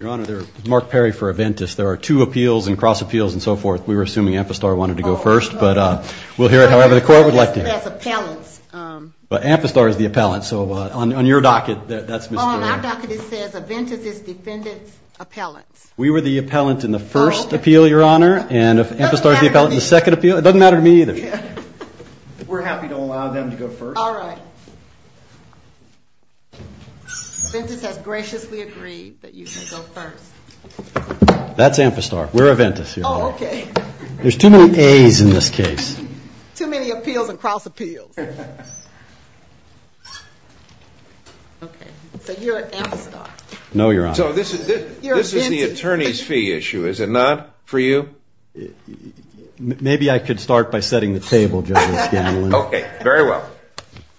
Your Honor, this is Mark Perry for Aventis. There are two appeals and cross appeals and so forth. We were assuming Amphastar wanted to go first, but we'll hear it however the court would like to hear it. That's appellants. But Amphastar is the appellant, so on your docket, that's Mr. On our docket it says Aventis is defendant's appellant. We were the appellant in the first appeal, Your Honor, and if Amphastar is the appellant in the second appeal, it doesn't matter to me either. We're happy to allow them to go first. All right. Aventis has graciously agreed that you can go first. That's Amphastar. We're Aventis, Your Honor. Oh, okay. There's too many A's in this case. Too many appeals and cross appeals. Okay. So you're Amphastar. No, Your Honor. So this is the attorney's fee issue, is it not, for you? Maybe I could start by setting the table, Justice Scanlon. Okay. Very well.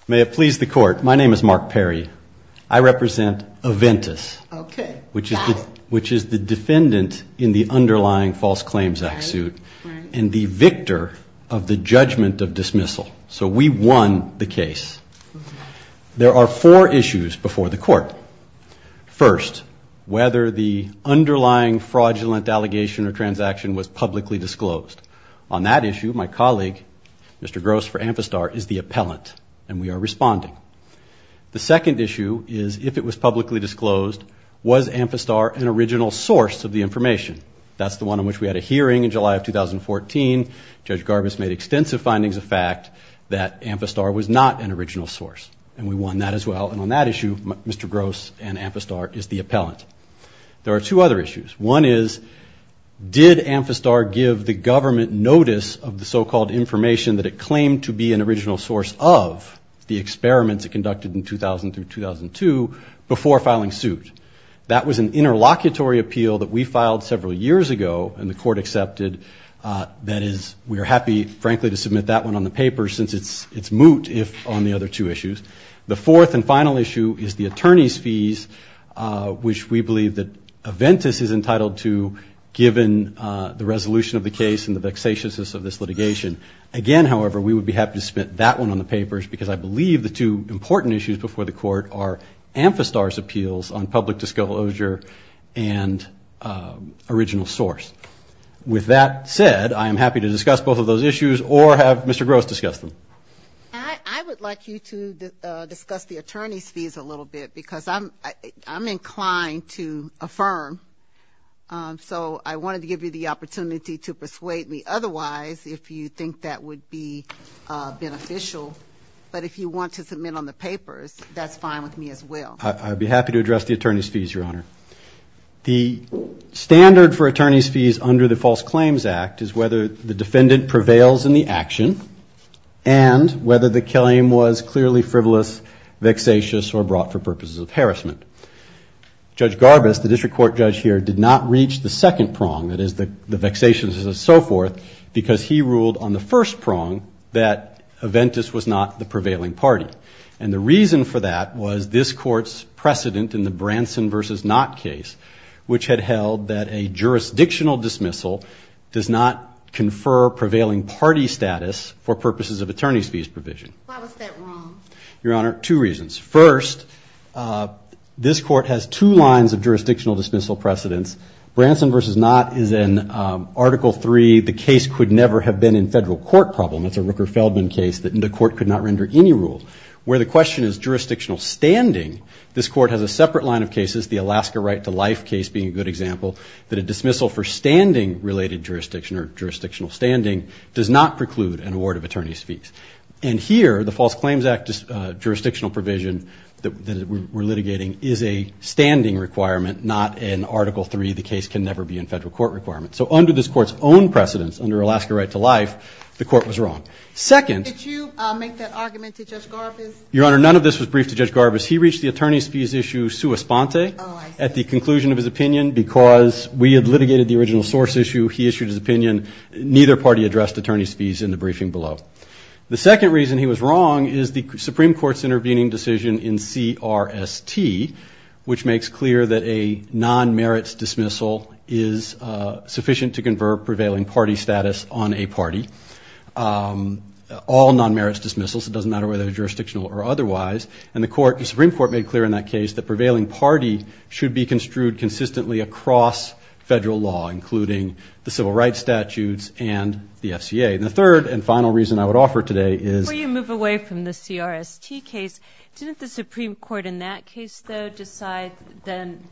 May it please the Court, my name is Mark Perry. I represent Aventis. Okay. Which is the defendant in the underlying False Claims Act suit and the victor of the judgment of dismissal. So we won the case. There are four issues before the Court. First, whether the underlying fraudulent allegation or transaction was publicly disclosed. On that issue, my colleague, Mr. Gross, for Amphastar, is the appellant, and we are responding. The second issue is if it was publicly disclosed, was Amphastar an original source of the information. That's the one on which we had a hearing in July of 2014. Judge Garbus made extensive findings of fact that Amphastar was not an original source, and we won that as well. And on that issue, Mr. Gross and Amphastar is the appellant. There are two other issues. One is, did Amphastar give the government notice of the so-called information that it claimed to be an original source of the experiments it conducted in 2000 through 2002 before filing suit? That was an interlocutory appeal that we filed several years ago, and the Court accepted. That is, we are happy, frankly, to submit that one on the paper since it's moot on the other two issues. The fourth and final issue is the attorney's fees, which we believe that Aventis is entitled to, given the resolution of the case and the vexatiousness of this litigation. Again, however, we would be happy to submit that one on the papers because I believe the two important issues before the Court are Amphastar's appeals on public disclosure and original source. With that said, I am happy to discuss both of those issues or have Mr. Gross discuss them. I would like you to discuss the attorney's fees a little bit because I'm inclined to affirm. So I wanted to give you the opportunity to persuade me otherwise if you think that would be beneficial. But if you want to submit on the papers, that's fine with me as well. I'd be happy to address the attorney's fees, Your Honor. The standard for attorney's fees under the False Claims Act is whether the defendant prevails in the action and whether the claim was clearly frivolous, vexatious, or brought for purposes of harassment. Judge Garbus, the district court judge here, did not reach the second prong, that is the vexatiousness and so forth, because he ruled on the first prong that Aventis was not the prevailing party. And the reason for that was this Court's precedent in the Branson v. Knott case, which had held that a jurisdictional dismissal does not confer prevailing party status for purposes of attorney's fees provision. Your Honor, two reasons. First, this Court has two lines of jurisdictional dismissal precedence. Branson v. Knott, where the question is jurisdictional standing, this Court has a separate line of cases, the Alaska Right to Life case being a good example, that a dismissal for standing-related jurisdiction or jurisdictional standing does not preclude an award of attorney's fees. And here, the False Claims Act jurisdictional provision that we're litigating is a standing requirement, not an Article III, the case can never be in federal court requirement. So under this Court's own precedence, under Alaska Right to Life, the Court was wrong. Second... Your Honor, none of this was briefed to Judge Garbus. He reached the attorney's fees issue sua sponte at the conclusion of his opinion, because we had litigated the original source issue, he issued his opinion, neither party addressed attorney's fees in the briefing below. The second reason he was wrong is the Supreme Court's intervening decision in CRST, which makes clear that a non-merits dismissal is sufficient to convert prevailing party status on a party. All non-merits dismissals, it doesn't matter whether they're jurisdictional or otherwise, and the Supreme Court made clear in that case that prevailing party should be construed consistently across federal law, including the civil rights statutes and the FCA. And the third and final reason I would offer today is... Before you move away from the CRST case, didn't the Supreme Court in that case, though, decide then,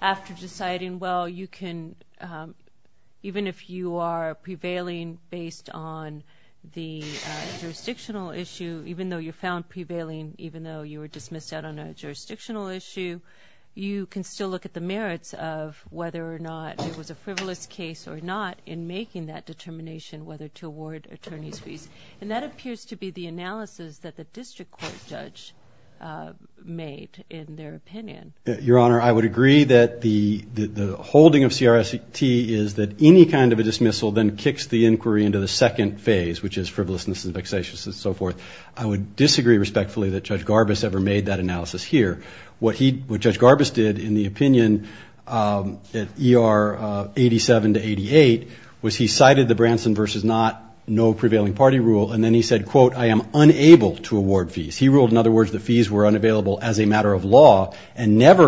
after deciding, well, you can still, even if you are prevailing based on the jurisdictional issue, even though you're found prevailing, even though you were dismissed out on a jurisdictional issue, you can still look at the merits of whether or not it was a frivolous case or not in making that determination whether to award attorney's fees. And that appears to be the analysis that the district court judge made in their opinion. Your Honor, I would agree that the holding of CRST is that any kind of a dismissal then kicks the inquiry into the second phase, which is frivolousness and vexatious and so forth. I would disagree respectfully that Judge Garbus ever made that analysis here. What he, what Judge Garbus did in the opinion at ER 87 to 88 was he cited the Branson versus not, no prevailing party rule, and then he said, quote, I am unable to say whether or not he ever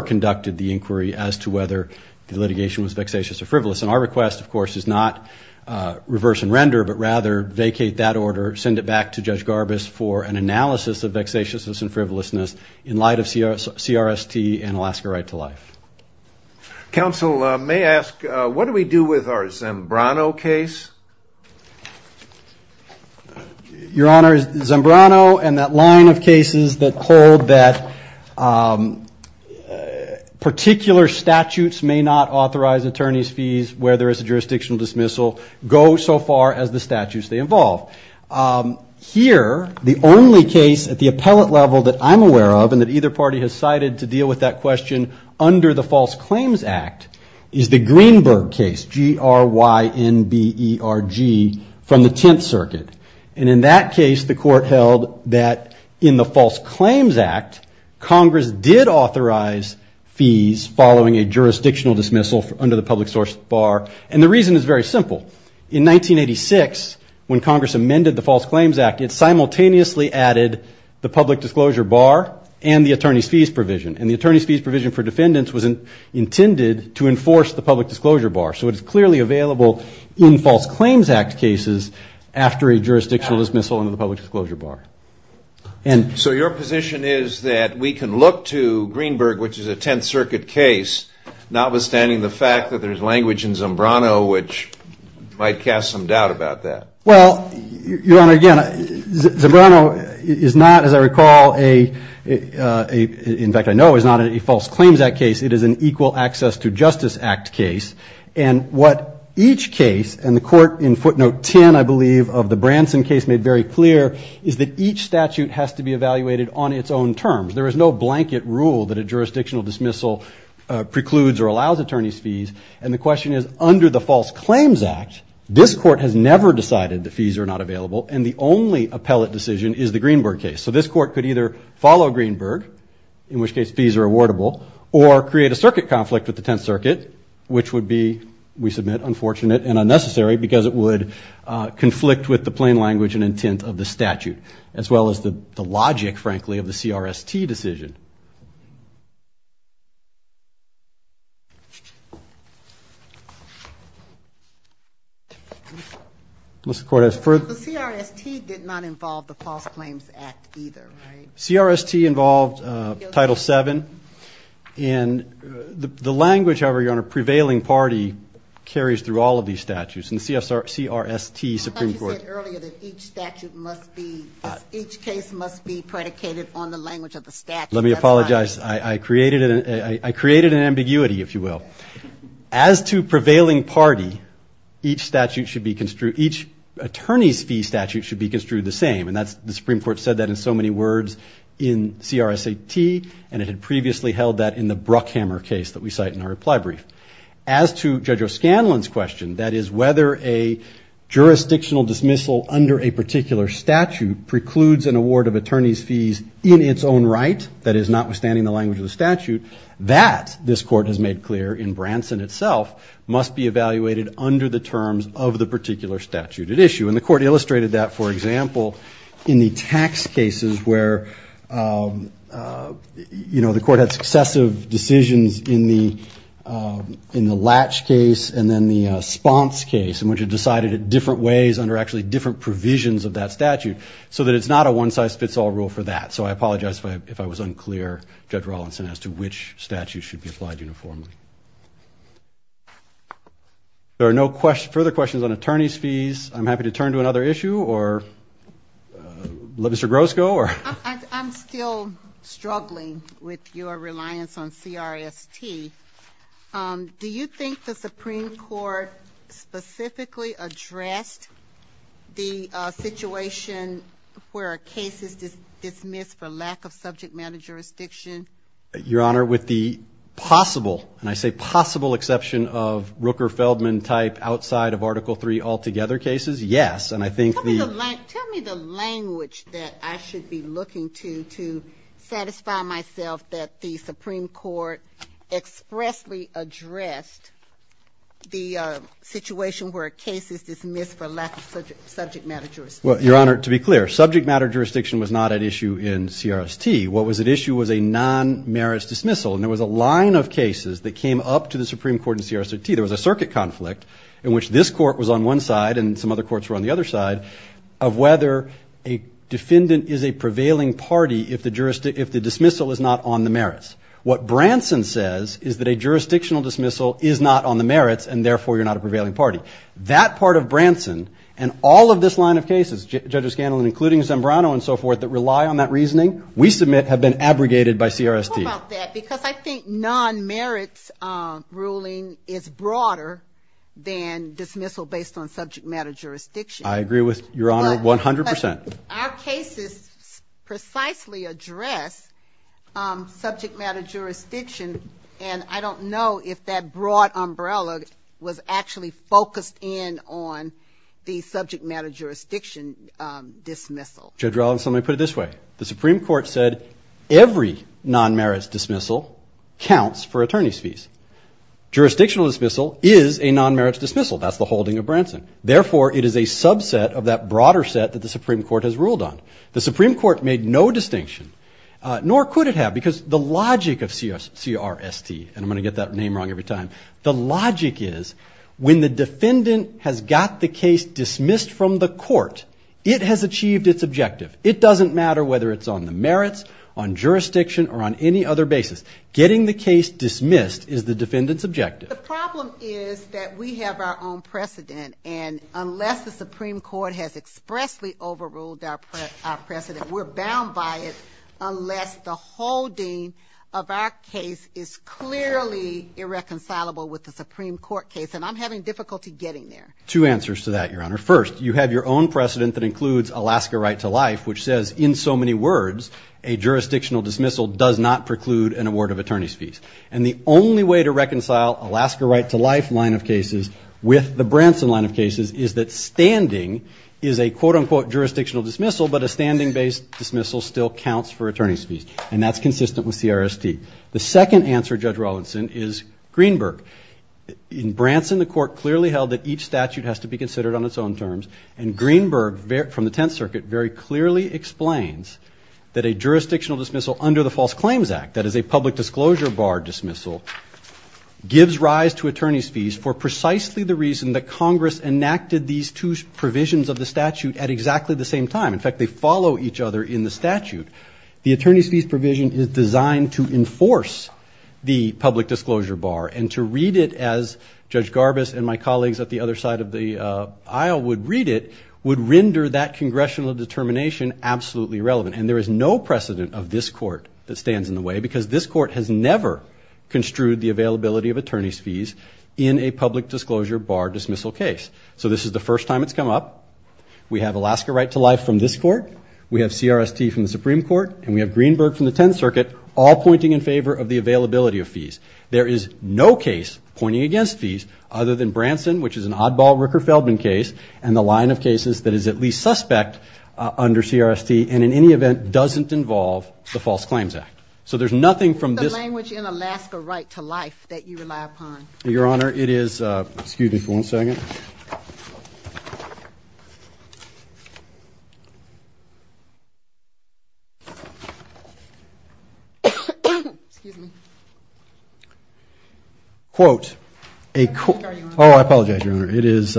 conducted the inquiry as to whether the litigation was vexatious or frivolous. And our request, of course, is not reverse and render, but rather vacate that order, send it back to Judge Garbus for an analysis of vexatiousness and frivolousness in light of CRST and Alaska Right to Life. Counsel, may I ask, what do we do with our Zambrano case? Your Honor, Zambrano and that line of cases that hold that particular statutes may not authorize attorney's fees where there is a jurisdictional dismissal go so far as the statutes they involve. Here, the only case at the appellate level that I'm aware of and that either party has cited to deal with that question under the False Claims Act is the Greenberg case, G-R-Y-N-B-E-R. And in that case, the court held that in the False Claims Act, Congress did authorize fees following a jurisdictional dismissal under the public source bar. And the reason is very simple. In 1986, when Congress amended the False Claims Act, it simultaneously added the public disclosure bar and the attorney's fees provision. And the attorney's fees provision for defendants was intended to enforce the public disclosure bar. So your position is that we can look to Greenberg, which is a Tenth Circuit case, notwithstanding the fact that there's language in Zambrano which might cast some doubt about that? Well, Your Honor, again, Zambrano is not, as I recall, in fact I know is not a False Claims Act case. It is an Equal Access to Justice Act case. And what each case, and the court in footnote 10, I believe, of the Branson case made very clear, is that each statute has to be evaluated on its own terms. There is no blanket rule that a jurisdictional dismissal precludes or allows attorney's fees. And the question is, under the False Claims Act, this court has never decided the fees are not available, and the only appellate decision is the Greenberg case. So this court could either follow Greenberg, in which case fees are awardable, or create a circuit which would be, we submit, unfortunate and unnecessary, because it would conflict with the plain language and intent of the statute, as well as the logic, frankly, of the CRST decision. The CRST did not involve the False Claims Act either, right? CRST involved Title VII, and the language, however, Your Honor, prevailing party carries through all of these statutes, and CRST Supreme Court. Let me apologize. I created an ambiguity, if you will. As to prevailing party, each statute should be construed, each attorney's fee statute should be construed the same, and the Supreme Court said that in so many words in CRST, and it had previously held that in the Bruckhammer case that we cite in our reply brief. As to Judge O'Scanlon's question, that is, whether a jurisdictional dismissal under a particular statute precludes an award of attorney's fees in its own right, that is, notwithstanding the language of the statute, that, this court has made clear in Branson itself, must be evaluated under the terms of the particular statute at issue. And the court illustrated that, for example, in the tax cases where, you know, the court had successive decisions in the Latch case and then the Spons case, in which it decided it different ways under actually different provisions of that statute, so that it's not a one-size-fits-all rule for that. So I apologize if I was unclear, Judge Rawlinson, as to which statute should be applied uniformly. There are no further questions on attorney's fees. I'm happy to turn to another issue, or Mr. Groscoe, or... I'm still struggling with your reliance on CRST. Do you think the Supreme Court specifically addressed the situation where a case is dismissed for lack of subject matter jurisdiction? Your Honor, with the possible, and I say possible, exception of Rooker-Feldman type outside of Article III altogether cases, yes, and I think... Tell me the language that I should be looking to to satisfy myself that the Supreme Court expressly addressed the situation where a case is dismissed for lack of subject matter jurisdiction. Well, Your Honor, to be clear, subject matter jurisdiction was not at issue in CRST. What was at issue was a non-merits dismissal, and there was a line of cases that came up to the Supreme Court in CRST. There was a circuit conflict in which this court was on one side and some other courts were on the other side of whether a defendant is a prevailing party if the dismissal is not on the merits. What Branson says is that a jurisdictional dismissal is not on the merits, and therefore you're not a prevailing party. That part of the case is not on the merits, and therefore you're not a prevailing party. Well, what about that? Because I think non-merits ruling is broader than dismissal based on subject matter jurisdiction. I agree with Your Honor 100 percent. Our cases precisely address subject matter jurisdiction, and I don't know if that broad umbrella was actually focused in on the subject matter jurisdiction dismissal. Judge Rollins, let me put it this way. The Supreme Court said every non-merits dismissal counts for attorney's fees. Jurisdictional dismissal is a non-merits dismissal. That's the holding of Branson. Therefore, it is a subset of that broader set that the Supreme Court has ruled on. The Supreme Court made no distinction, nor could it have, because the logic of CRST, and I'm going to get that name wrong every time. The logic is when the defendant has got the case dismissed from the court, it has achieved its objective. It doesn't matter whether it's on the merits, on jurisdiction, or on any other basis. Getting the case dismissed is the defendant's objective. The problem is that we have our own precedent, and unless the Supreme Court has expressly overruled our precedent, we're bound by it, unless the holding of our case is clearly irreconcilable with the Supreme Court case, and I'm having difficulty getting there. Two answers to that, Your Honor. First, you have your own precedent that includes Alaska right to life, which says, in so many words, a jurisdictional dismissal does not preclude an award of attorney's fees, and the only way to reconcile Alaska right to life line of cases with the Branson line of cases is that standing is a quote-unquote jurisdictional dismissal, but a standing-based dismissal still counts for an award of attorney's fees, and that's consistent with CRST. The second answer, Judge Rawlinson, is Greenberg. In Branson, the court clearly held that each statute has to be considered on its own terms, and Greenberg, from the Tenth Circuit, very clearly explains that a jurisdictional dismissal under the False Claims Act, that is a public disclosure bar dismissal, gives rise to attorney's fees for precisely the reason that Congress enacted these two provisions of the statute at exactly the same time. In fact, they follow each other in the statute, and each provision is designed to enforce the public disclosure bar, and to read it as Judge Garbus and my colleagues at the other side of the aisle would read it, would render that congressional determination absolutely relevant, and there is no precedent of this court that stands in the way, because this court has never construed the availability of attorney's fees in a public disclosure bar dismissal case. So this is the first time it's come up. We have Alaska right to life from this court. We have CRST from the Supreme Court, and we have Greenberg from the Tenth Circuit, all pointing in favor of the availability of fees. There is no case pointing against fees, other than Branson, which is an oddball Ricker-Feldman case, and the line of cases that is at least suspect under CRST, and in any event doesn't involve the False Claims Act. So there's nothing from this... It's the language in Alaska right to life that you rely upon. Excuse me. Oh, I apologize, Your Honor. It is...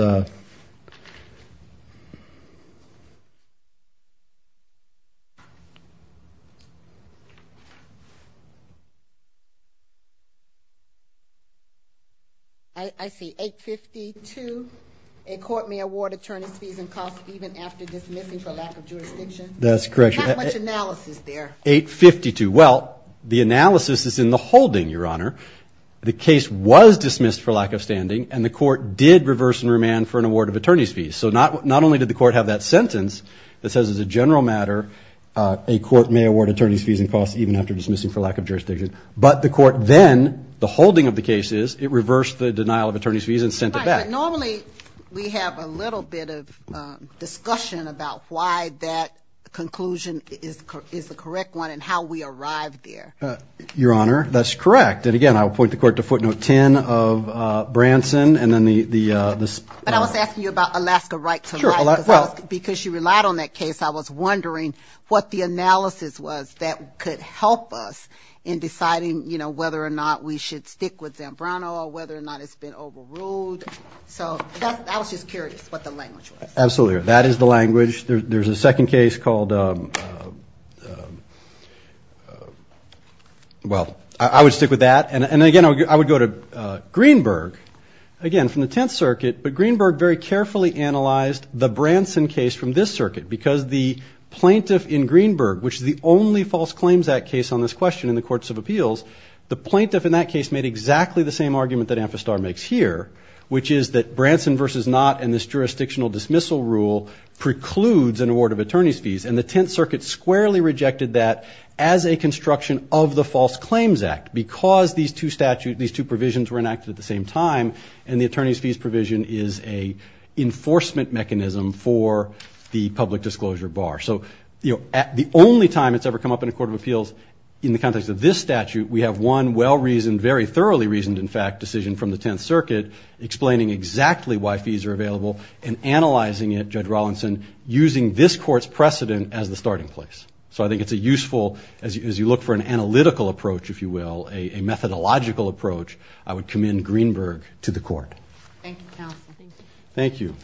I see. 852, a court may award attorney's fees and costs even after dismissing for lack of jurisdiction. That's correct. Well, the analysis is in the holding, Your Honor. The case was dismissed for lack of standing, and the court did reverse and remand for an award of attorney's fees. So not only did the court have that sentence that says, as a general matter, a court may award attorney's fees and costs even after dismissing for lack of jurisdiction, but the court then, the holding of the case is, it reversed the denial of attorney's fees and sent it back. Right, but normally we have a little bit of discussion about why that... Conclusion is the correct one, and how we arrived there. Your Honor, that's correct. And again, I will point the court to footnote 10 of Branson, and then the... But I was asking you about Alaska right to life, because you relied on that case. I was wondering what the analysis was that could help us in deciding, you know, whether or not we should stick with Zambrano, or whether or not it's been overruled. So I was just curious what the language was. Well, I would stick with that, and again, I would go to Greenberg, again, from the Tenth Circuit, but Greenberg very carefully analyzed the Branson case from this circuit, because the plaintiff in Greenberg, which is the only False Claims Act case on this question in the Courts of Appeals, the plaintiff in that case made exactly the same argument that Amphistar makes here, which is that Branson v. Knott and this jurisdictional dismissal rule precludes an award of attorney's fees, and the Tenth Circuit squarely rejected that as a construction of the False Claims Act, because these two statutes, these two provisions were enacted at the same time, and the attorney's fees provision is a enforcement mechanism for the public disclosure bar. So, you know, the only time it's ever come up in a Court of Appeals in the context of this statute, we have one well-reasoned, very thoroughly reasoned, in fact, decision from the Tenth Circuit, explaining exactly why fees are available and analyzing it, Judge Rawlinson, using this Court's precedent as the starting place. So I think it's a useful, as you look for an analytical approach, if you will, a methodological approach, I would commend Greenberg to the Court. Thank you, Counsel.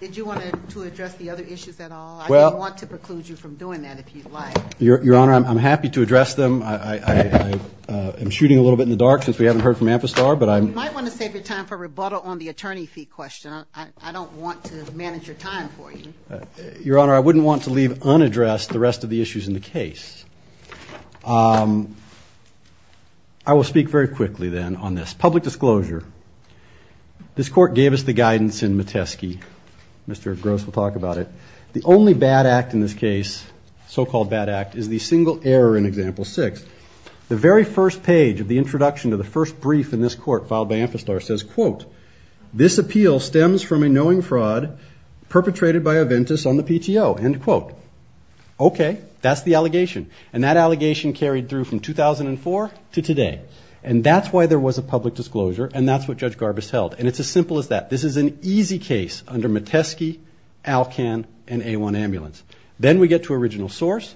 Did you want to address the other issues at all? I don't want to preclude you from doing that, if you'd like. Your Honor, I'm happy to address them. I'm shooting a little bit in the dark, since we haven't heard from Amphistar. You might want to save your time for rebuttal on the attorney fee question. I don't want to manage your time for you. Your Honor, I wouldn't want to leave unaddressed the rest of the issues in the case. I will speak very quickly, then, on this. Public disclosure. This Court gave us the guidance in Metesky. Mr. Gross will talk about it. The only bad act in this case, so-called bad act, is the single error in Example 6. The very first page of the introduction to the first brief in this Court filed by Amphistar says, quote, this appeal stems from a knowing fraud perpetrated by Aventis on the PTO, end quote. Okay, that's the allegation. And that allegation carried through from 2004 to today. And that's why there was a public disclosure, and that's what Judge Garbus held. And it's as simple as that. This is an easy case under Metesky, ALCAN, and A1 Ambulance. Then we get to original source,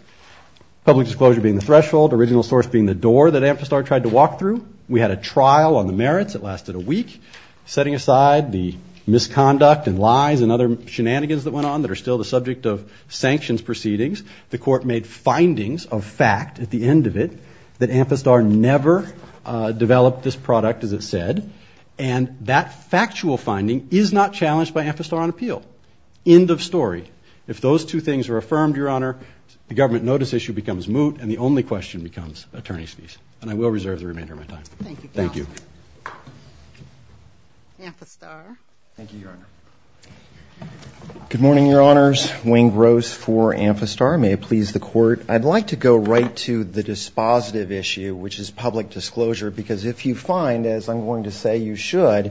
public disclosure being the threshold, original source being the door that Amphistar tried to walk through. We had a trial on the merits that lasted a week, setting aside the misconduct and lies and other shenanigans that went on that are still the subject of sanctions proceedings. The Court made findings of fact at the end of it that Amphistar never developed this product, as it said. And that factual finding is not challenged by Amphistar on appeal. End of story. If those two things are affirmed, Your Honor, the government notice issue becomes moot, and the only question becomes attorney's fees. And I will reserve the remainder of my time. Thank you. Good morning, Your Honors. Wayne Gross for Amphistar. May it please the Court. I'd like to go right to the dispositive issue, which is public disclosure. Because if you find, as I'm going to say you should,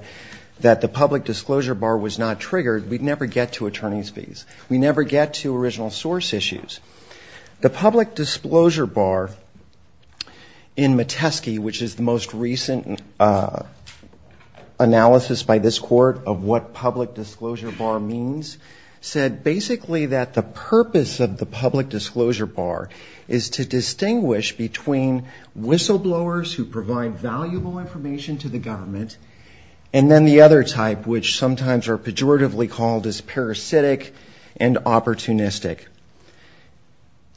that the public disclosure bar was not triggered, we'd never get to attorney's fees. We'd never get to original source issues. The public disclosure bar in Metesky, which is the most recent analysis by this Court of what public disclosure bar means, said basically that the purpose of the public disclosure bar is to distinguish between whistleblowers who provide valuable information to the government, and then the other type, which sometimes are pejoratively called whistleblowers, is parasitic and opportunistic.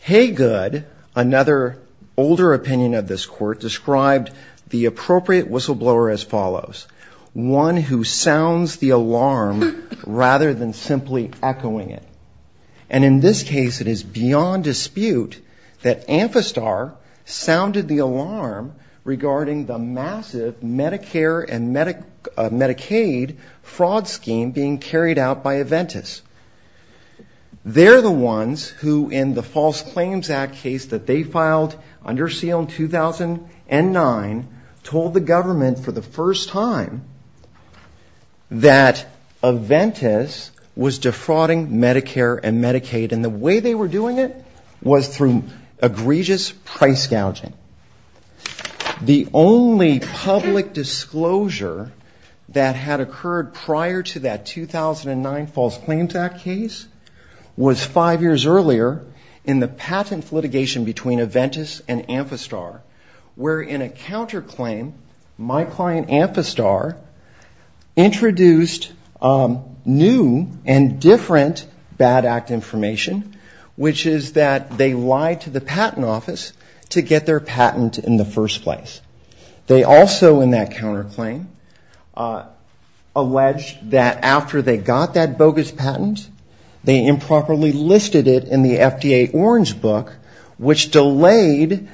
Haygood, another older opinion of this Court, described the appropriate whistleblower as follows. One who sounds the alarm rather than simply echoing it. And in this case, it is beyond dispute that Amphistar sounded the alarm regarding the massive Medicare and Medicaid fraud scheme being carried out by Aventis. They're the ones who, in the False Claims Act case that they filed under SEAL in 2009, told the government for the first time that Aventis was defrauding Medicare and Medicaid. And the way they were doing it was through egregious price gouging. The only public disclosure that had occurred prior to that time was that Amphistar was a fraud. That 2009 False Claims Act case was five years earlier in the patent litigation between Aventis and Amphistar, where in a counterclaim, my client Amphistar introduced new and different bad act information, which is that they lied to the patent office to get their patent in the first place. They also, in that counterclaim, alleged that after they got that bogus patent, they improperly listed it in the FDA orange book, which delayed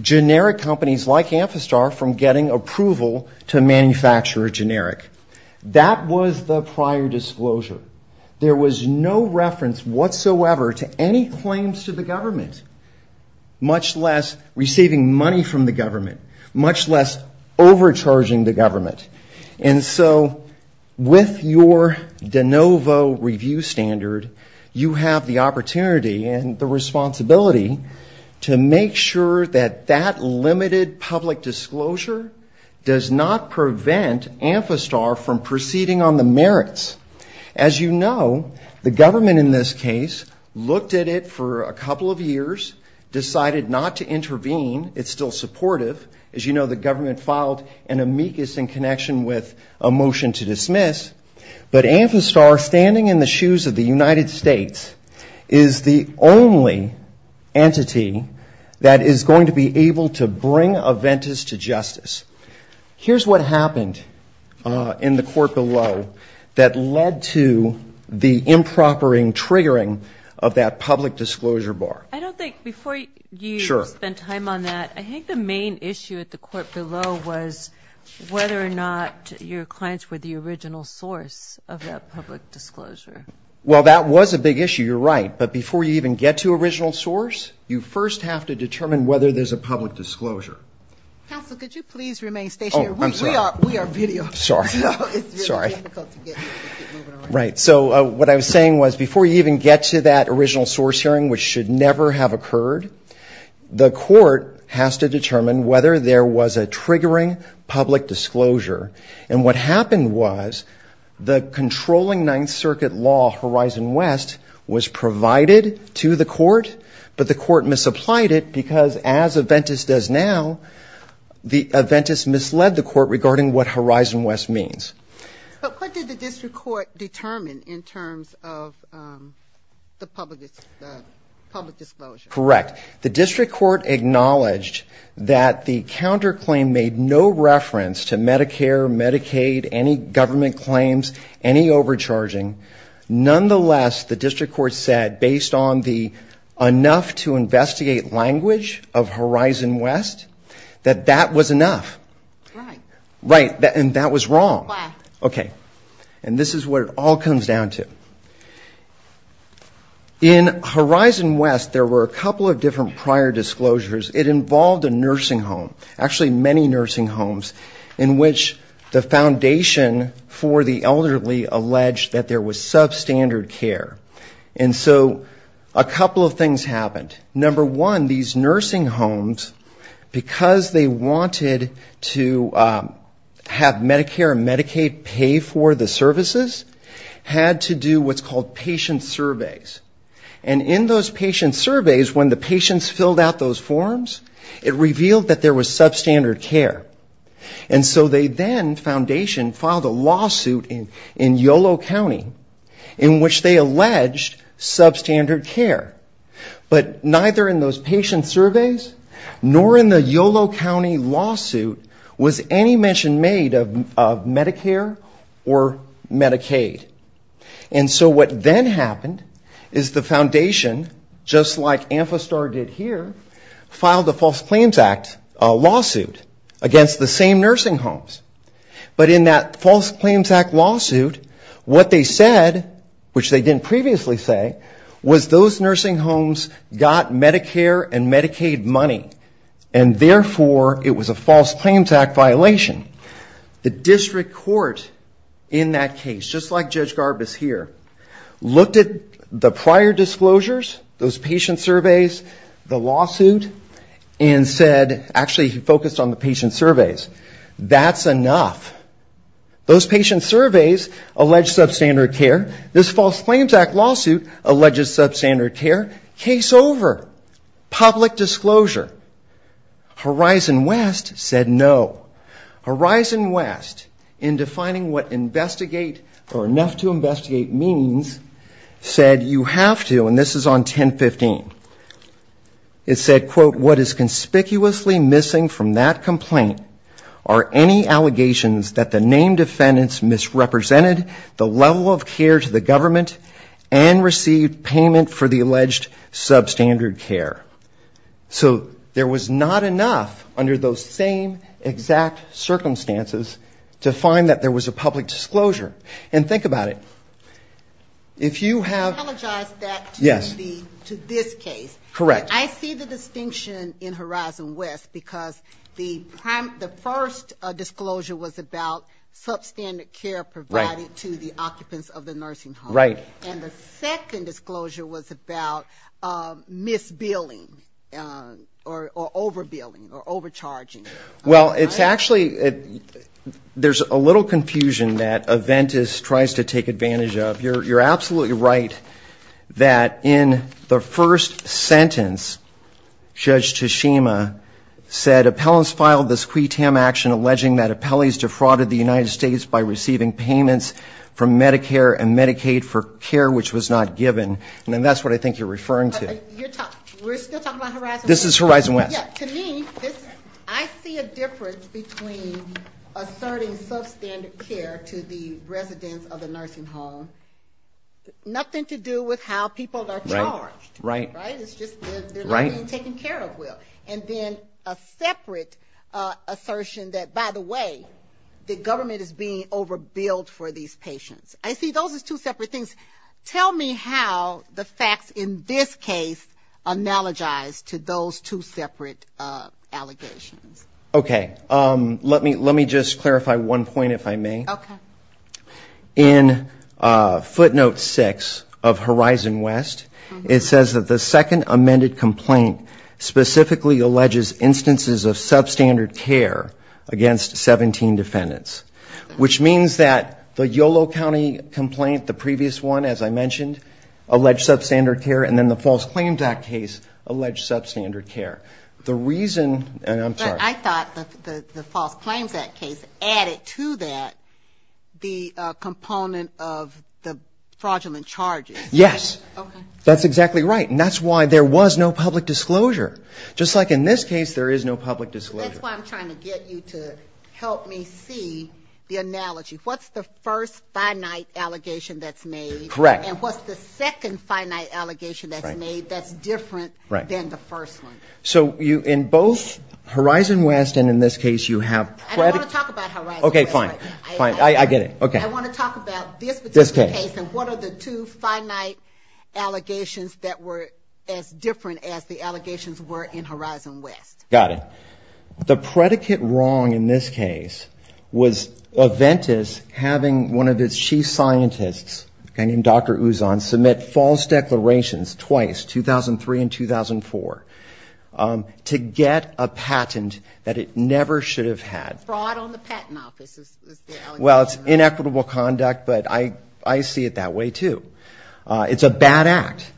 generic companies like Amphistar from getting approval to manufacture a generic. That was the prior disclosure. There was no reference whatsoever to any claims to the government, much less receiving money from the government. Much less overcharging the government. And so with your de novo review standard, you have the opportunity and the responsibility to make sure that that limited public disclosure does not prevent Amphistar from proceeding on the merits. As you know, the government in this case looked at it for a couple of years, decided not to intervene. It's still supportive. As you know, the government filed an amicus in connection with a motion to dismiss, but Amphistar, standing in the shoes of the United States, is the only entity that is going to be able to bring Aventis to justice. Here's what happened in the court below that led to the improper triggering of that public disclosure bar. I don't think, before you spend time on that, I think the main issue at the court below was whether or not your clients were the original source of that public disclosure. Well, that was a big issue, you're right, but before you even get to original source, you first have to determine whether there's a public disclosure. Counsel, could you please remain stationary? We are video, so it's really difficult to get moving around. Right, so what I was saying was before you even get to that original source hearing, which should never have occurred, the court has to determine whether there was a triggering public disclosure. And what happened was the controlling Ninth Circuit law, Horizon West, was provided to the court, but the court misapplied it because, as Aventis does now, Aventis misled the court. So the court misapplied it, and the court misapplied it to the district court regarding what Horizon West means. But what did the district court determine in terms of the public disclosure? Correct. The district court acknowledged that the counterclaim made no reference to Medicare, Medicaid, any government claims, any overcharging. Nonetheless, the district court said, based on the enough-to-investigate language of Horizon West, that that was enough. Right. And that was wrong. Okay. And this is what it all comes down to. In Horizon West, there were a couple of different prior disclosures. It involved a nursing home, actually many nursing homes, in which the foundation for the elderly alleged that there was substandard care. And so a couple of things happened. Number one, these nursing homes, because they wanted to have Medicare and Medicaid pay for the services, had to do what's called patient surveys. And in those patient surveys, when the patients filled out those forms, it revealed that there was substandard care. And so they then, the foundation, filed a lawsuit in Yolo County in which they alleged substandard care. But neither in those patient surveys, nor in the Yolo County lawsuit, was any mention made of Medicare or Medicaid. And so what then happened is the foundation, just like Amphistar did here, filed a False Claims Act lawsuit against the same nursing homes. But in that False Claims Act lawsuit, what they said, which they didn't previously say, was those nursing homes had to pay for the services. Those nursing homes got Medicare and Medicaid money, and therefore it was a False Claims Act violation. The district court in that case, just like Judge Garbus here, looked at the prior disclosures, those patient surveys, the lawsuit, and said, actually focused on the patient surveys. That's enough. Those patient surveys allege substandard care. This False Claims Act lawsuit alleges substandard care. Case over. Public disclosure. Horizon West said no. Horizon West, in defining what investigate or enough to investigate means, said you have to, and this is on 1015, it said, quote, what is conspicuously missing from that complaint are any allegations of substandard care. That is, that the named defendants misrepresented the level of care to the government and received payment for the alleged substandard care. So there was not enough under those same exact circumstances to find that there was a public disclosure. And think about it. If you have... The first disclosure was about substandard care provided to the occupants of the nursing home. And the second disclosure was about misbilling, or overbilling, or overcharging. Well, it's actually, there's a little confusion that Aventis tries to take advantage of. You're absolutely right that in the first sentence, Judge Tashima said, that appellants filed this qui tam action alleging that appellees defrauded the United States by receiving payments from Medicare and Medicaid for care which was not given. And that's what I think you're referring to. We're still talking about Horizon West. This is Horizon West. Yeah, to me, I see a difference between asserting substandard care to the residents of the nursing home, nothing to do with how people are charged. I see a separate assertion that, by the way, the government is being overbilled for these patients. I see those as two separate things. Tell me how the facts in this case analogize to those two separate allegations. Okay. Let me just clarify one point, if I may. In footnote six of Horizon West, it says that the second amended complaint specifically alleges instances of substandard care. Against 17 defendants. Which means that the Yolo County complaint, the previous one, as I mentioned, alleged substandard care. And then the False Claims Act case alleged substandard care. But I thought the False Claims Act case added to that the component of the fraudulent charges. Yes. That's exactly right. And that's why there was no public disclosure. Just like in this case, there is no public disclosure. That's why I'm trying to get you to help me see the analogy. What's the first finite allegation that's made? And what's the second finite allegation that's made that's different than the first one? So in both Horizon West and in this case you have... I don't want to talk about Horizon West. I want to talk about this particular case and what are the two finite allegations that were as different as the allegations were in Horizon West. Got it. The predicate wrong in this case was Aventis having one of its chief scientists, a guy named Dr. Ouzon, submit false declarations twice, 2003 and 2004. To get a patent that it never should have had. Fraud on the patent office is the allegation. Well, it's inequitable conduct, but I see it that way, too. It's a bad act.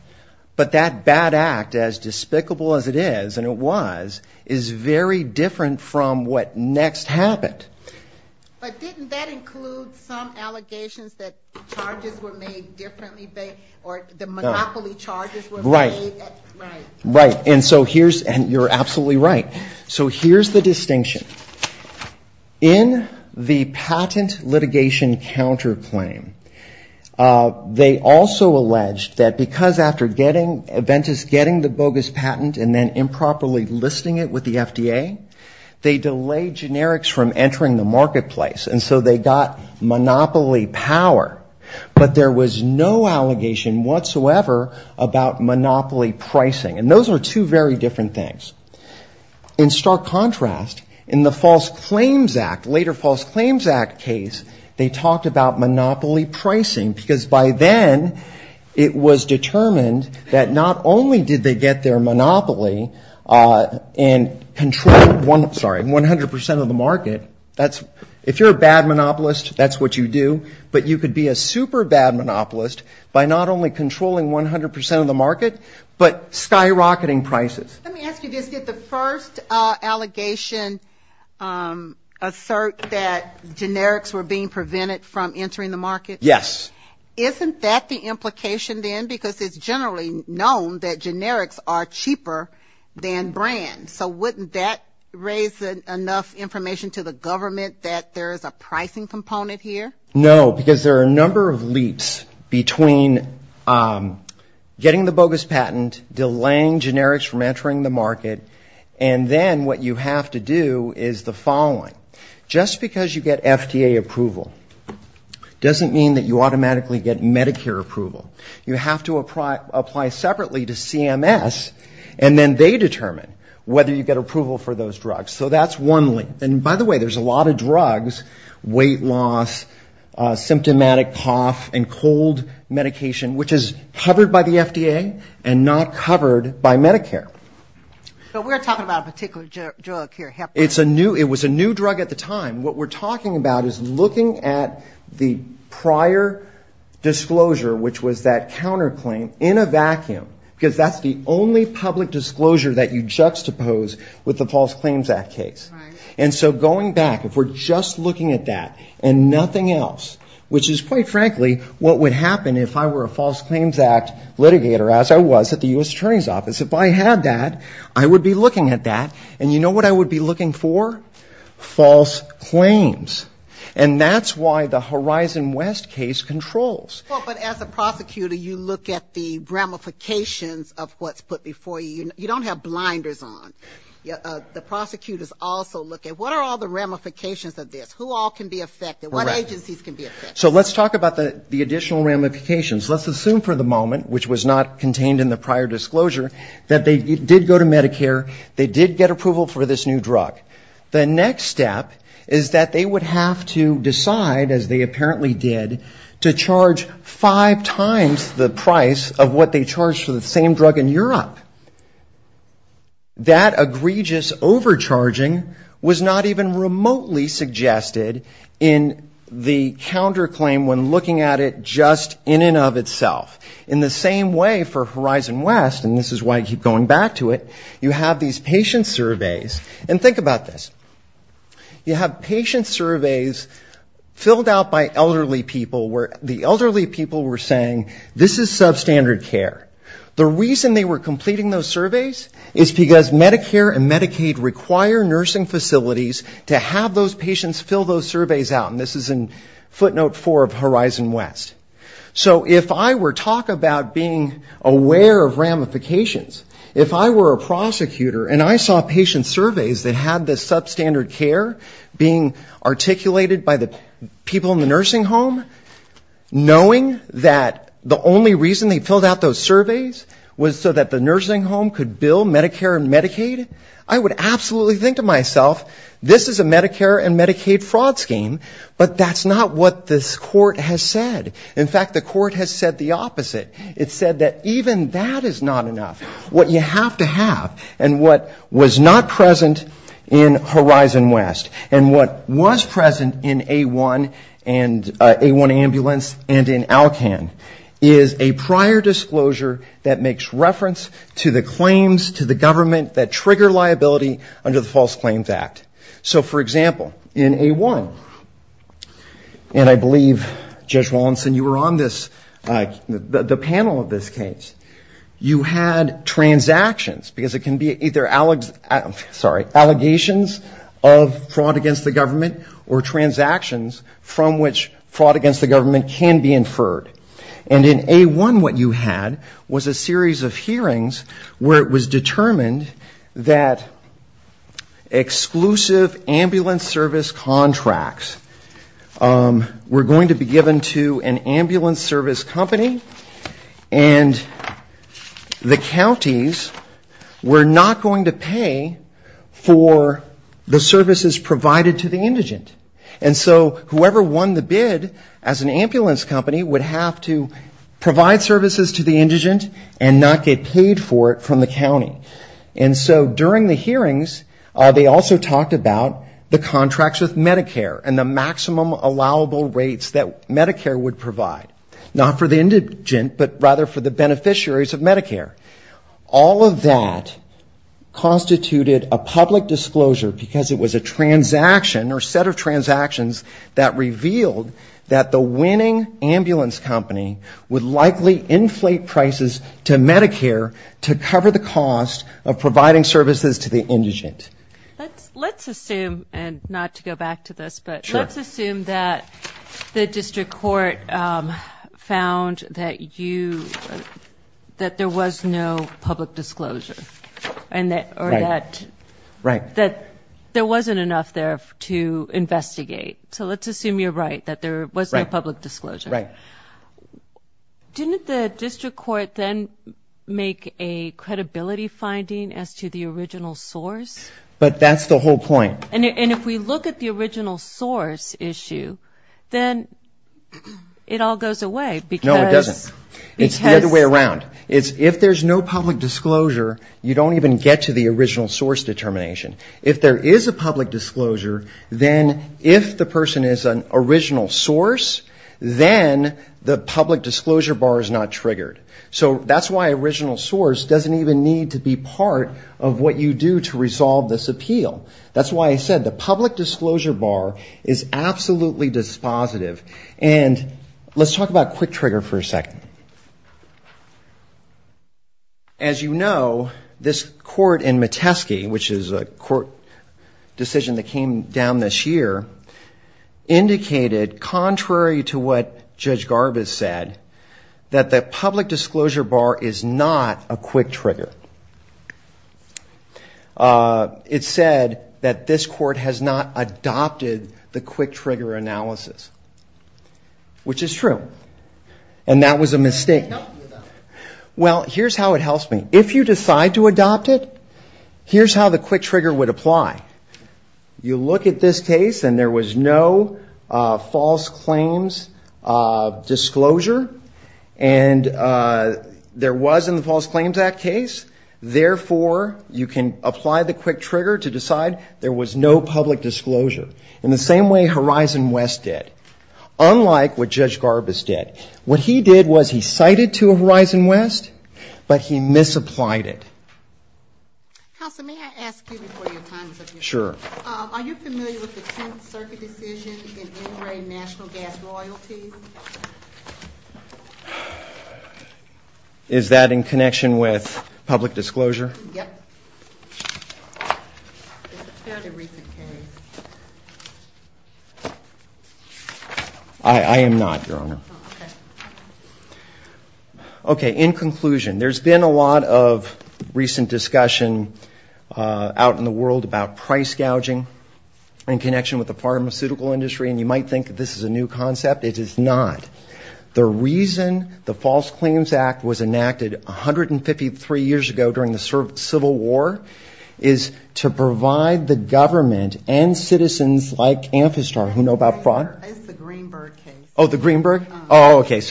But that bad act, as despicable as it is, and it was, is very different from what next happened. But didn't that include some allegations that charges were made differently, or the monopoly charges were made... And you're absolutely right. So here's the distinction. In the patent litigation counterclaim, they also alleged that because after getting... Aventis getting the bogus patent and then improperly listing it with the FDA, they delayed generics from entering the marketplace. And so they got monopoly power, but there was no allegation whatsoever about monopoly pricing. And those are two very different things. In stark contrast, in the False Claims Act, later False Claims Act case, they talked about monopoly pricing, because by then it was determined that not only did they get their monopoly and control 100 percent of the market, that's... If you're a bad monopolist, that's what you do, but you could be a super bad monopolist by not only controlling 100 percent of the market, but skyrocketing prices. Let me ask you this. Did the first allegation assert that generics were being prevented from entering the market? Yes. Isn't that the implication then? Because it's generally known that generics are cheaper than brand. So wouldn't that raise enough information to the government that there is a pricing component here? No, because there are a number of leaps between getting the bogus patent, delaying generics from entering the market, and then what you have to do is the following. Just because you get FDA approval doesn't mean that you automatically get Medicare approval. You have to apply separately to CMS, and then they determine whether you get approval for those drugs. So that's one leap. And by the way, there's a lot of drugs, weight loss, symptomatic cough and cold medication, which is covered by the FDA and not covered by Medicare. So we're talking about a particular drug here. It's a new, it was a new drug at the time. What we're talking about is looking at the prior disclosure, which was that counterclaim, in a vacuum, because that's the only public disclosure that you juxtapose with the False Claims Act case. And so going back, if we're just looking at that and nothing else, which is quite frankly what would happen if I were a False Claims Act litigator, as I was at the U.S. Attorney's Office. If I had that, I would be looking at that. And you know what I would be looking for? False claims. And that's why the Horizon West case controls. But as a prosecutor, you look at the ramifications of what's put before you. You don't have blinders on. The prosecutors also look at what are all the ramifications of this, who all can be affected, what agencies can be affected. So let's talk about the additional ramifications. Let's assume for the moment, which was not contained in the prior disclosure, that they did go to Medicare, they did get approval for this new drug. The next step is that they would have to decide, as they apparently did, to charge five times the price of what they charged for the same drug in Europe. That egregious overcharging was not even remotely suggested in the counterclaim when looking at it just in and of itself. In the same way for Horizon West, and this is why I keep going back to it, you have these patient surveys. And think about this. You have patient surveys filled out by elderly people where the elderly people were saying, this is substandard care. The reason they were completing those surveys is because Medicare and Medicaid require nursing facilities to have those patients fill those surveys out. And this is in footnote four of Horizon West. So if I were to talk about being aware of ramifications, if I were a prosecutor and I saw patient surveys that had this substandard care being articulated by the people in the nursing home, knowing that the only reason they filled out those surveys was so that the nursing home could bill Medicare and Medicaid, I would absolutely think to myself, this is a Medicare and Medicaid fraud scheme, but that's not what this court has said. In fact, the court has said the opposite. It said that even that is not enough. What you have to have and what was not present in Horizon West and what was present in A-1 and A-1 Ambulance and in ALCAN is a prior disclosure that makes reference to the claims to the government that trigger liability under the False Claims Act. So, for example, in A-1, and I believe, Judge Wallinson, you were on this, the panel of this case, you had a case where the patient was charged with fraud and transactions, because it can be either allegations of fraud against the government or transactions from which fraud against the government can be inferred. And in A-1, what you had was a series of hearings where it was determined that exclusive ambulance service contracts were going to be given to an ambulance service company, and the counterparts were going to be the counties, were not going to pay for the services provided to the indigent. And so, whoever won the bid as an ambulance company would have to provide services to the indigent and not get paid for it from the county. And so, during the hearings, they also talked about the contracts with Medicare and the maximum allowable rates that Medicare would provide. Not for the indigent, but rather for the beneficiaries of Medicare. All of that constituted a public disclosure, because it was a transaction or set of transactions that revealed that the winning ambulance company would likely inflate prices to Medicare to cover the cost of providing services to the indigent. Let's assume, and not to go back to this, but let's assume that the district court found that you, that there was no public disclosure, or that there wasn't enough there to investigate. So let's assume you're right, that there was no public disclosure. Didn't the district court then make a credibility finding as to the original source? But that's the whole point. And if we look at the original source issue, then it all goes away, because... No, it doesn't. It's the other way around. If there's no public disclosure, you don't even get to the original source determination. If there is a public disclosure, then if the person is an original source, then the public disclosure bar is not triggered. So that's why original source doesn't even need to be part of what you do to resolve this issue. That's why I said the public disclosure bar is absolutely dispositive. And let's talk about quick trigger for a second. As you know, this court in Metesky, which is a court decision that came down this year, indicated, contrary to what Judge Garbus said, that the public disclosure bar is not a quick trigger. It said that this court has not adopted the quick trigger analysis, which is true. And that was a mistake. Well, here's how it helps me. If you decide to adopt it, here's how the quick trigger would apply. You look at this case, and there was no false claims disclosure, and there was in the False Claims Act case. Therefore, you can apply the quick trigger to decide there was no public disclosure. In the same way Horizon West did. Unlike what Judge Garbus did. What he did was he cited to Horizon West, but he misapplied it. Counsel, may I ask you before your time is up here? Sure. Are you familiar with the 10th Circuit decision in NRA National Gas Loyalty? Is that in connection with public disclosure? It's a fairly recent case. I am not, Your Honor. Okay, in conclusion, there's been a lot of recent discussion out in the world about price gouging. In connection with the pharmaceutical industry, and you might think that this is a new concept. It is not. The reason the False Claims Act was enacted 153 years ago during the Civil War is to provide the government and citizens like Amphistar who know about fraud. That's the Greenberg case.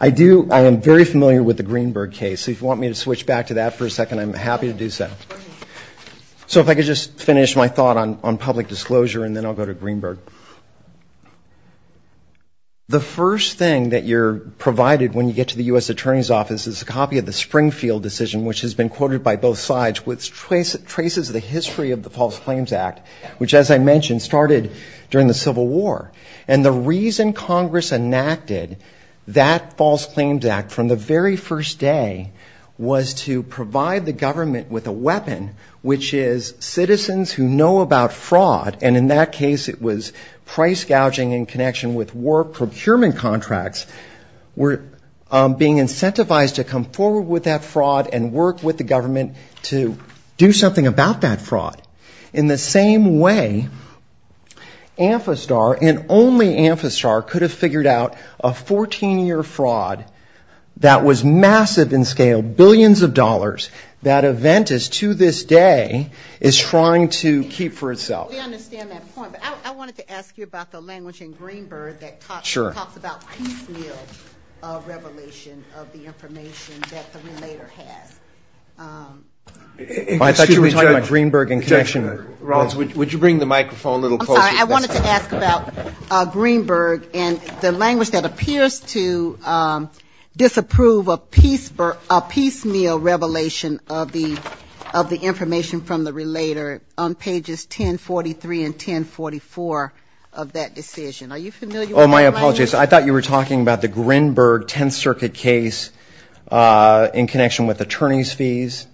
I am very familiar with the Greenberg case. If you want me to switch back to that for a second, I'm happy to do so. I'll start on public disclosure and then I'll go to Greenberg. The first thing that you're provided when you get to the U.S. Attorney's Office is a copy of the Springfield decision, which has been quoted by both sides, which traces the history of the False Claims Act, which, as I mentioned, started during the Civil War. And the reason Congress enacted that False Claims Act from the very first day was to provide the government with a weapon, which is citizens who know about fraud. And in that case, it was price gouging in connection with war procurement contracts were being incentivized to come forward with that fraud and work with the government to do something about that fraud. In the same way, Amphistar and only Amphistar could have figured out a 14-year fraud that was massive in scale, billions of dollars. That event is, to this day, is trying to keep for itself. We understand that point, but I wanted to ask you about the language in Greenberg that talks about piecemeal revelation of the information that the relator has. Excuse me, Judge, Ron, would you bring the microphone a little closer? I'm sorry, I wanted to ask about Greenberg and the language that appears to disapprove a piecemeal revelation of the information that the relator has. I'm sorry, I wanted to ask about Greenberg and the language that appears to disapprove a piecemeal revelation of the information that the relator has. On pages 1043 and 1044 of that decision. Are you familiar with that language? Oh, my apologies. I thought you were talking about the Greenberg Tenth Circuit case in connection with attorney's fees.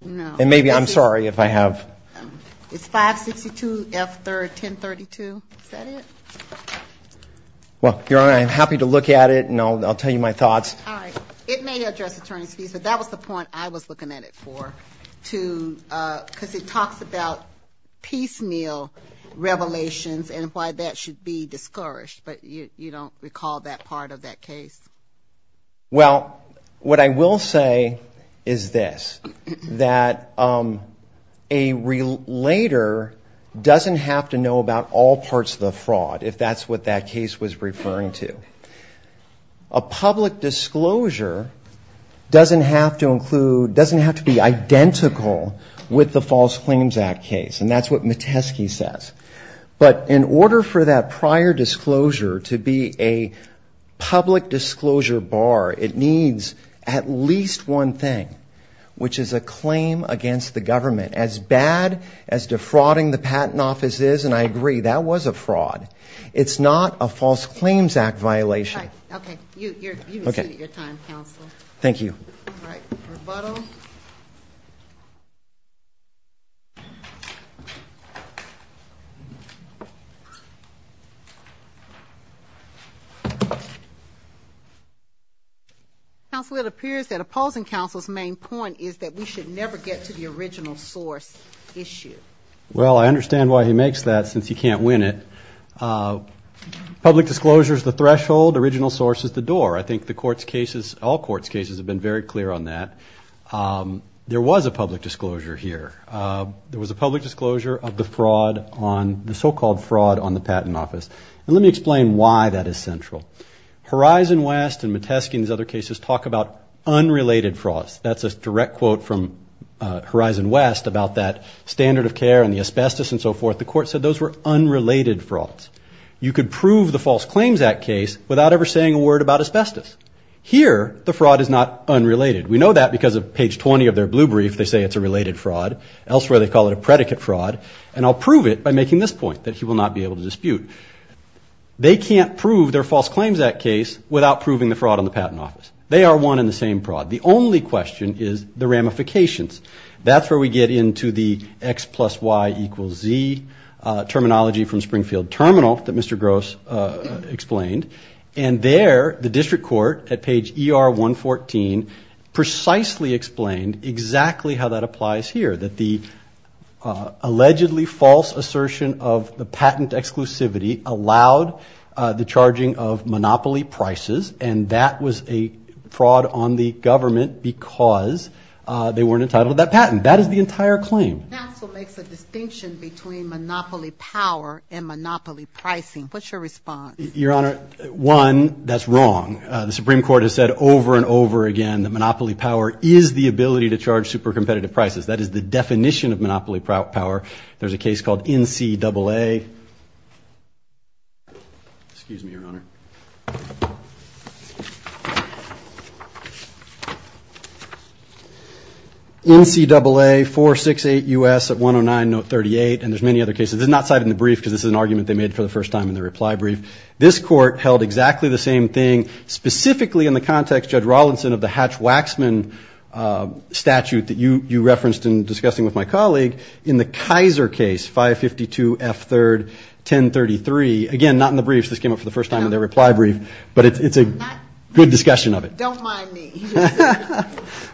No. And maybe, I'm sorry if I have... It's 562F1032. Is that it? Well, Your Honor, I'm happy to look at it, and I'll tell you my thoughts. All right. It may address attorney's fees, but that was the point I was looking at it for, because it talks about piecemeal revelations and why that should be discouraged, but you don't recall that part of that case? Well, what I will say is this. A person later doesn't have to know about all parts of the fraud, if that's what that case was referring to. A public disclosure doesn't have to include, doesn't have to be identical with the False Claims Act case, and that's what Metesky says. But in order for that prior disclosure to be a public disclosure bar, it needs at least one thing, which is a claim against the government. As bad as defrauding the Patent Office is, and I agree, that was a fraud, it's not a False Claims Act violation. All right. Okay. You've exceeded your time, Counsel. What about the original source issue? Well, I understand why he makes that, since he can't win it. Public disclosure is the threshold, original source is the door. I think the Court's cases, all Court's cases have been very clear on that. There was a public disclosure here. There was a public disclosure of the fraud on, the so-called fraud on the Patent Office, and let me explain why that is central. Horizon West and Metesky and these other cases talk about unrelated frauds. That's a direct quote from Horizon West about that standard of care and the asbestos and so forth. The Court said those were unrelated frauds. You could prove the False Claims Act case without ever saying a word about asbestos. Here, the fraud is not unrelated. We know that because of page 20 of their blue brief, they say it's a related fraud. Elsewhere they call it a predicate fraud, and I'll prove it by making this point, that he will not be able to dispute. They can't prove their False Claims Act case without proving the fraud on the Patent Office. They are one and the same fraud. The only question is the ramifications. That's where we get into the X plus Y equals Z terminology from Springfield Terminal that Mr. Gross explained. And there, the District Court at page ER 114 precisely explained exactly how that applies here, that the allegedly false assertion of the patent exclusivity allowed the charging of monopoly prices, and that was a fraud on the government because they weren't entitled to a patent. That is the entire claim. Your Honor, one, that's wrong. The Supreme Court has said over and over again that monopoly power is the ability to charge super competitive prices. That is the definition of monopoly power. There's a case called NCAA. 468 U.S. at 109 note 38, and there's many other cases. This is not cited in the brief because this is an argument they made for the first time in the reply brief. This court held exactly the same thing, specifically in the context, Judge Rawlinson, of the Hatch-Waxman statute that you referenced in discussing with my colleague in the Kaiser case, 552 F3rd 1033. Again, not in the briefs, this came up for the first time in their reply brief, but it's a good discussion of it. Don't mind me.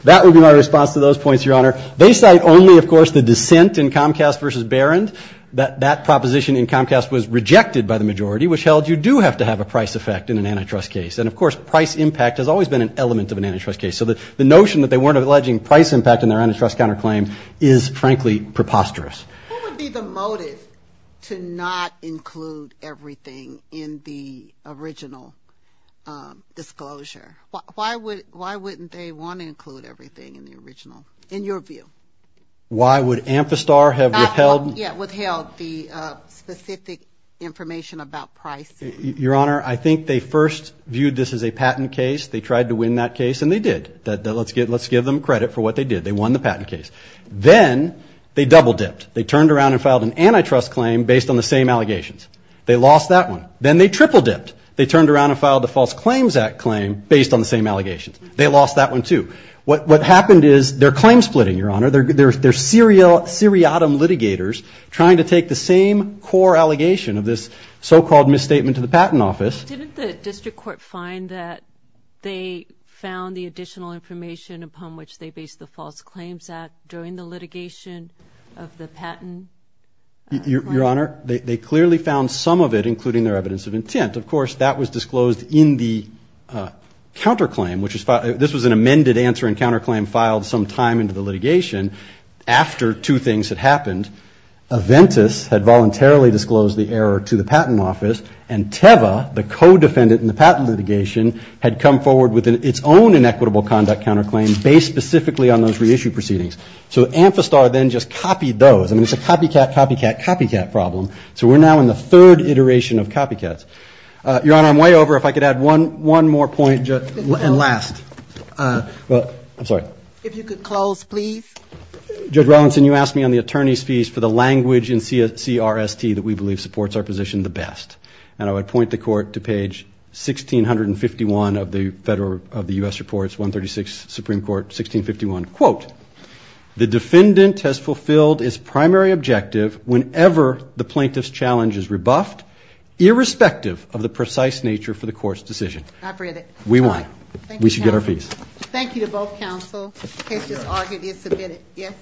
That would be my response to those points, Your Honor. They cite only, of course, the dissent in Comcast v. Barron, that that proposition in Comcast was rejected by the majority, which held you do have to have a price effect in an antitrust case. And, of course, price impact has always been an element of an antitrust case, so the notion that they weren't alleging price impact in their antitrust counterclaim is, frankly, preposterous. Who would be the motive to not include everything in the original disclosure? Why wouldn't they want to include everything in the original, in your view? Why would Amphistar have withheld the specific information about price? Your Honor, I think they first viewed this as a patent case, they tried to win that case, and they did. Let's give them credit for what they did. They won the patent case. Then they double-dipped. They turned around and filed an antitrust claim based on the same allegations. They lost that one. Then they triple-dipped. They turned around and filed the False Claims Act claim based on the same allegations. They lost that one, too. What happened is they're claim-splitting, Your Honor. They're seriatim litigators trying to take the same core allegation of this so-called misstatement to the patent office. Didn't the district court find that they found the additional information upon which they based the False Claims Act during the litigation of the patent? Your Honor, they clearly found some of it, including their evidence of intent. Of course, that was disclosed in the counterclaim, which is, this was an amended answer and counterclaim filed some time into the litigation. After two things had happened, Aventis had voluntarily disclosed the error to the patent office, and Teva, the co-defendant in the patent litigation, had come forward with its own inequitable conduct counterclaim based specifically on those reissued proceedings. So Amphistar then just copied those. I mean, it's a copycat, copycat, copycat problem. So we're now in the third iteration of copycats. Your Honor, I'm way over. If I could add one more point, and last. I'm sorry. Judge Rawlinson, you asked me on the attorney's piece for the language in CRST that we believe supports our position the best. And I would point the Court to page 1651 of the U.S. Reports, 136, Supreme Court, 1651. The defendant has fulfilled its primary objective whenever the plaintiff's challenge is rebuffed, irrespective of the precise nature for the Court's decision. I've read it. We won. We should get our fees. Thank you to both counsel. The case is argued and submitted. Yes?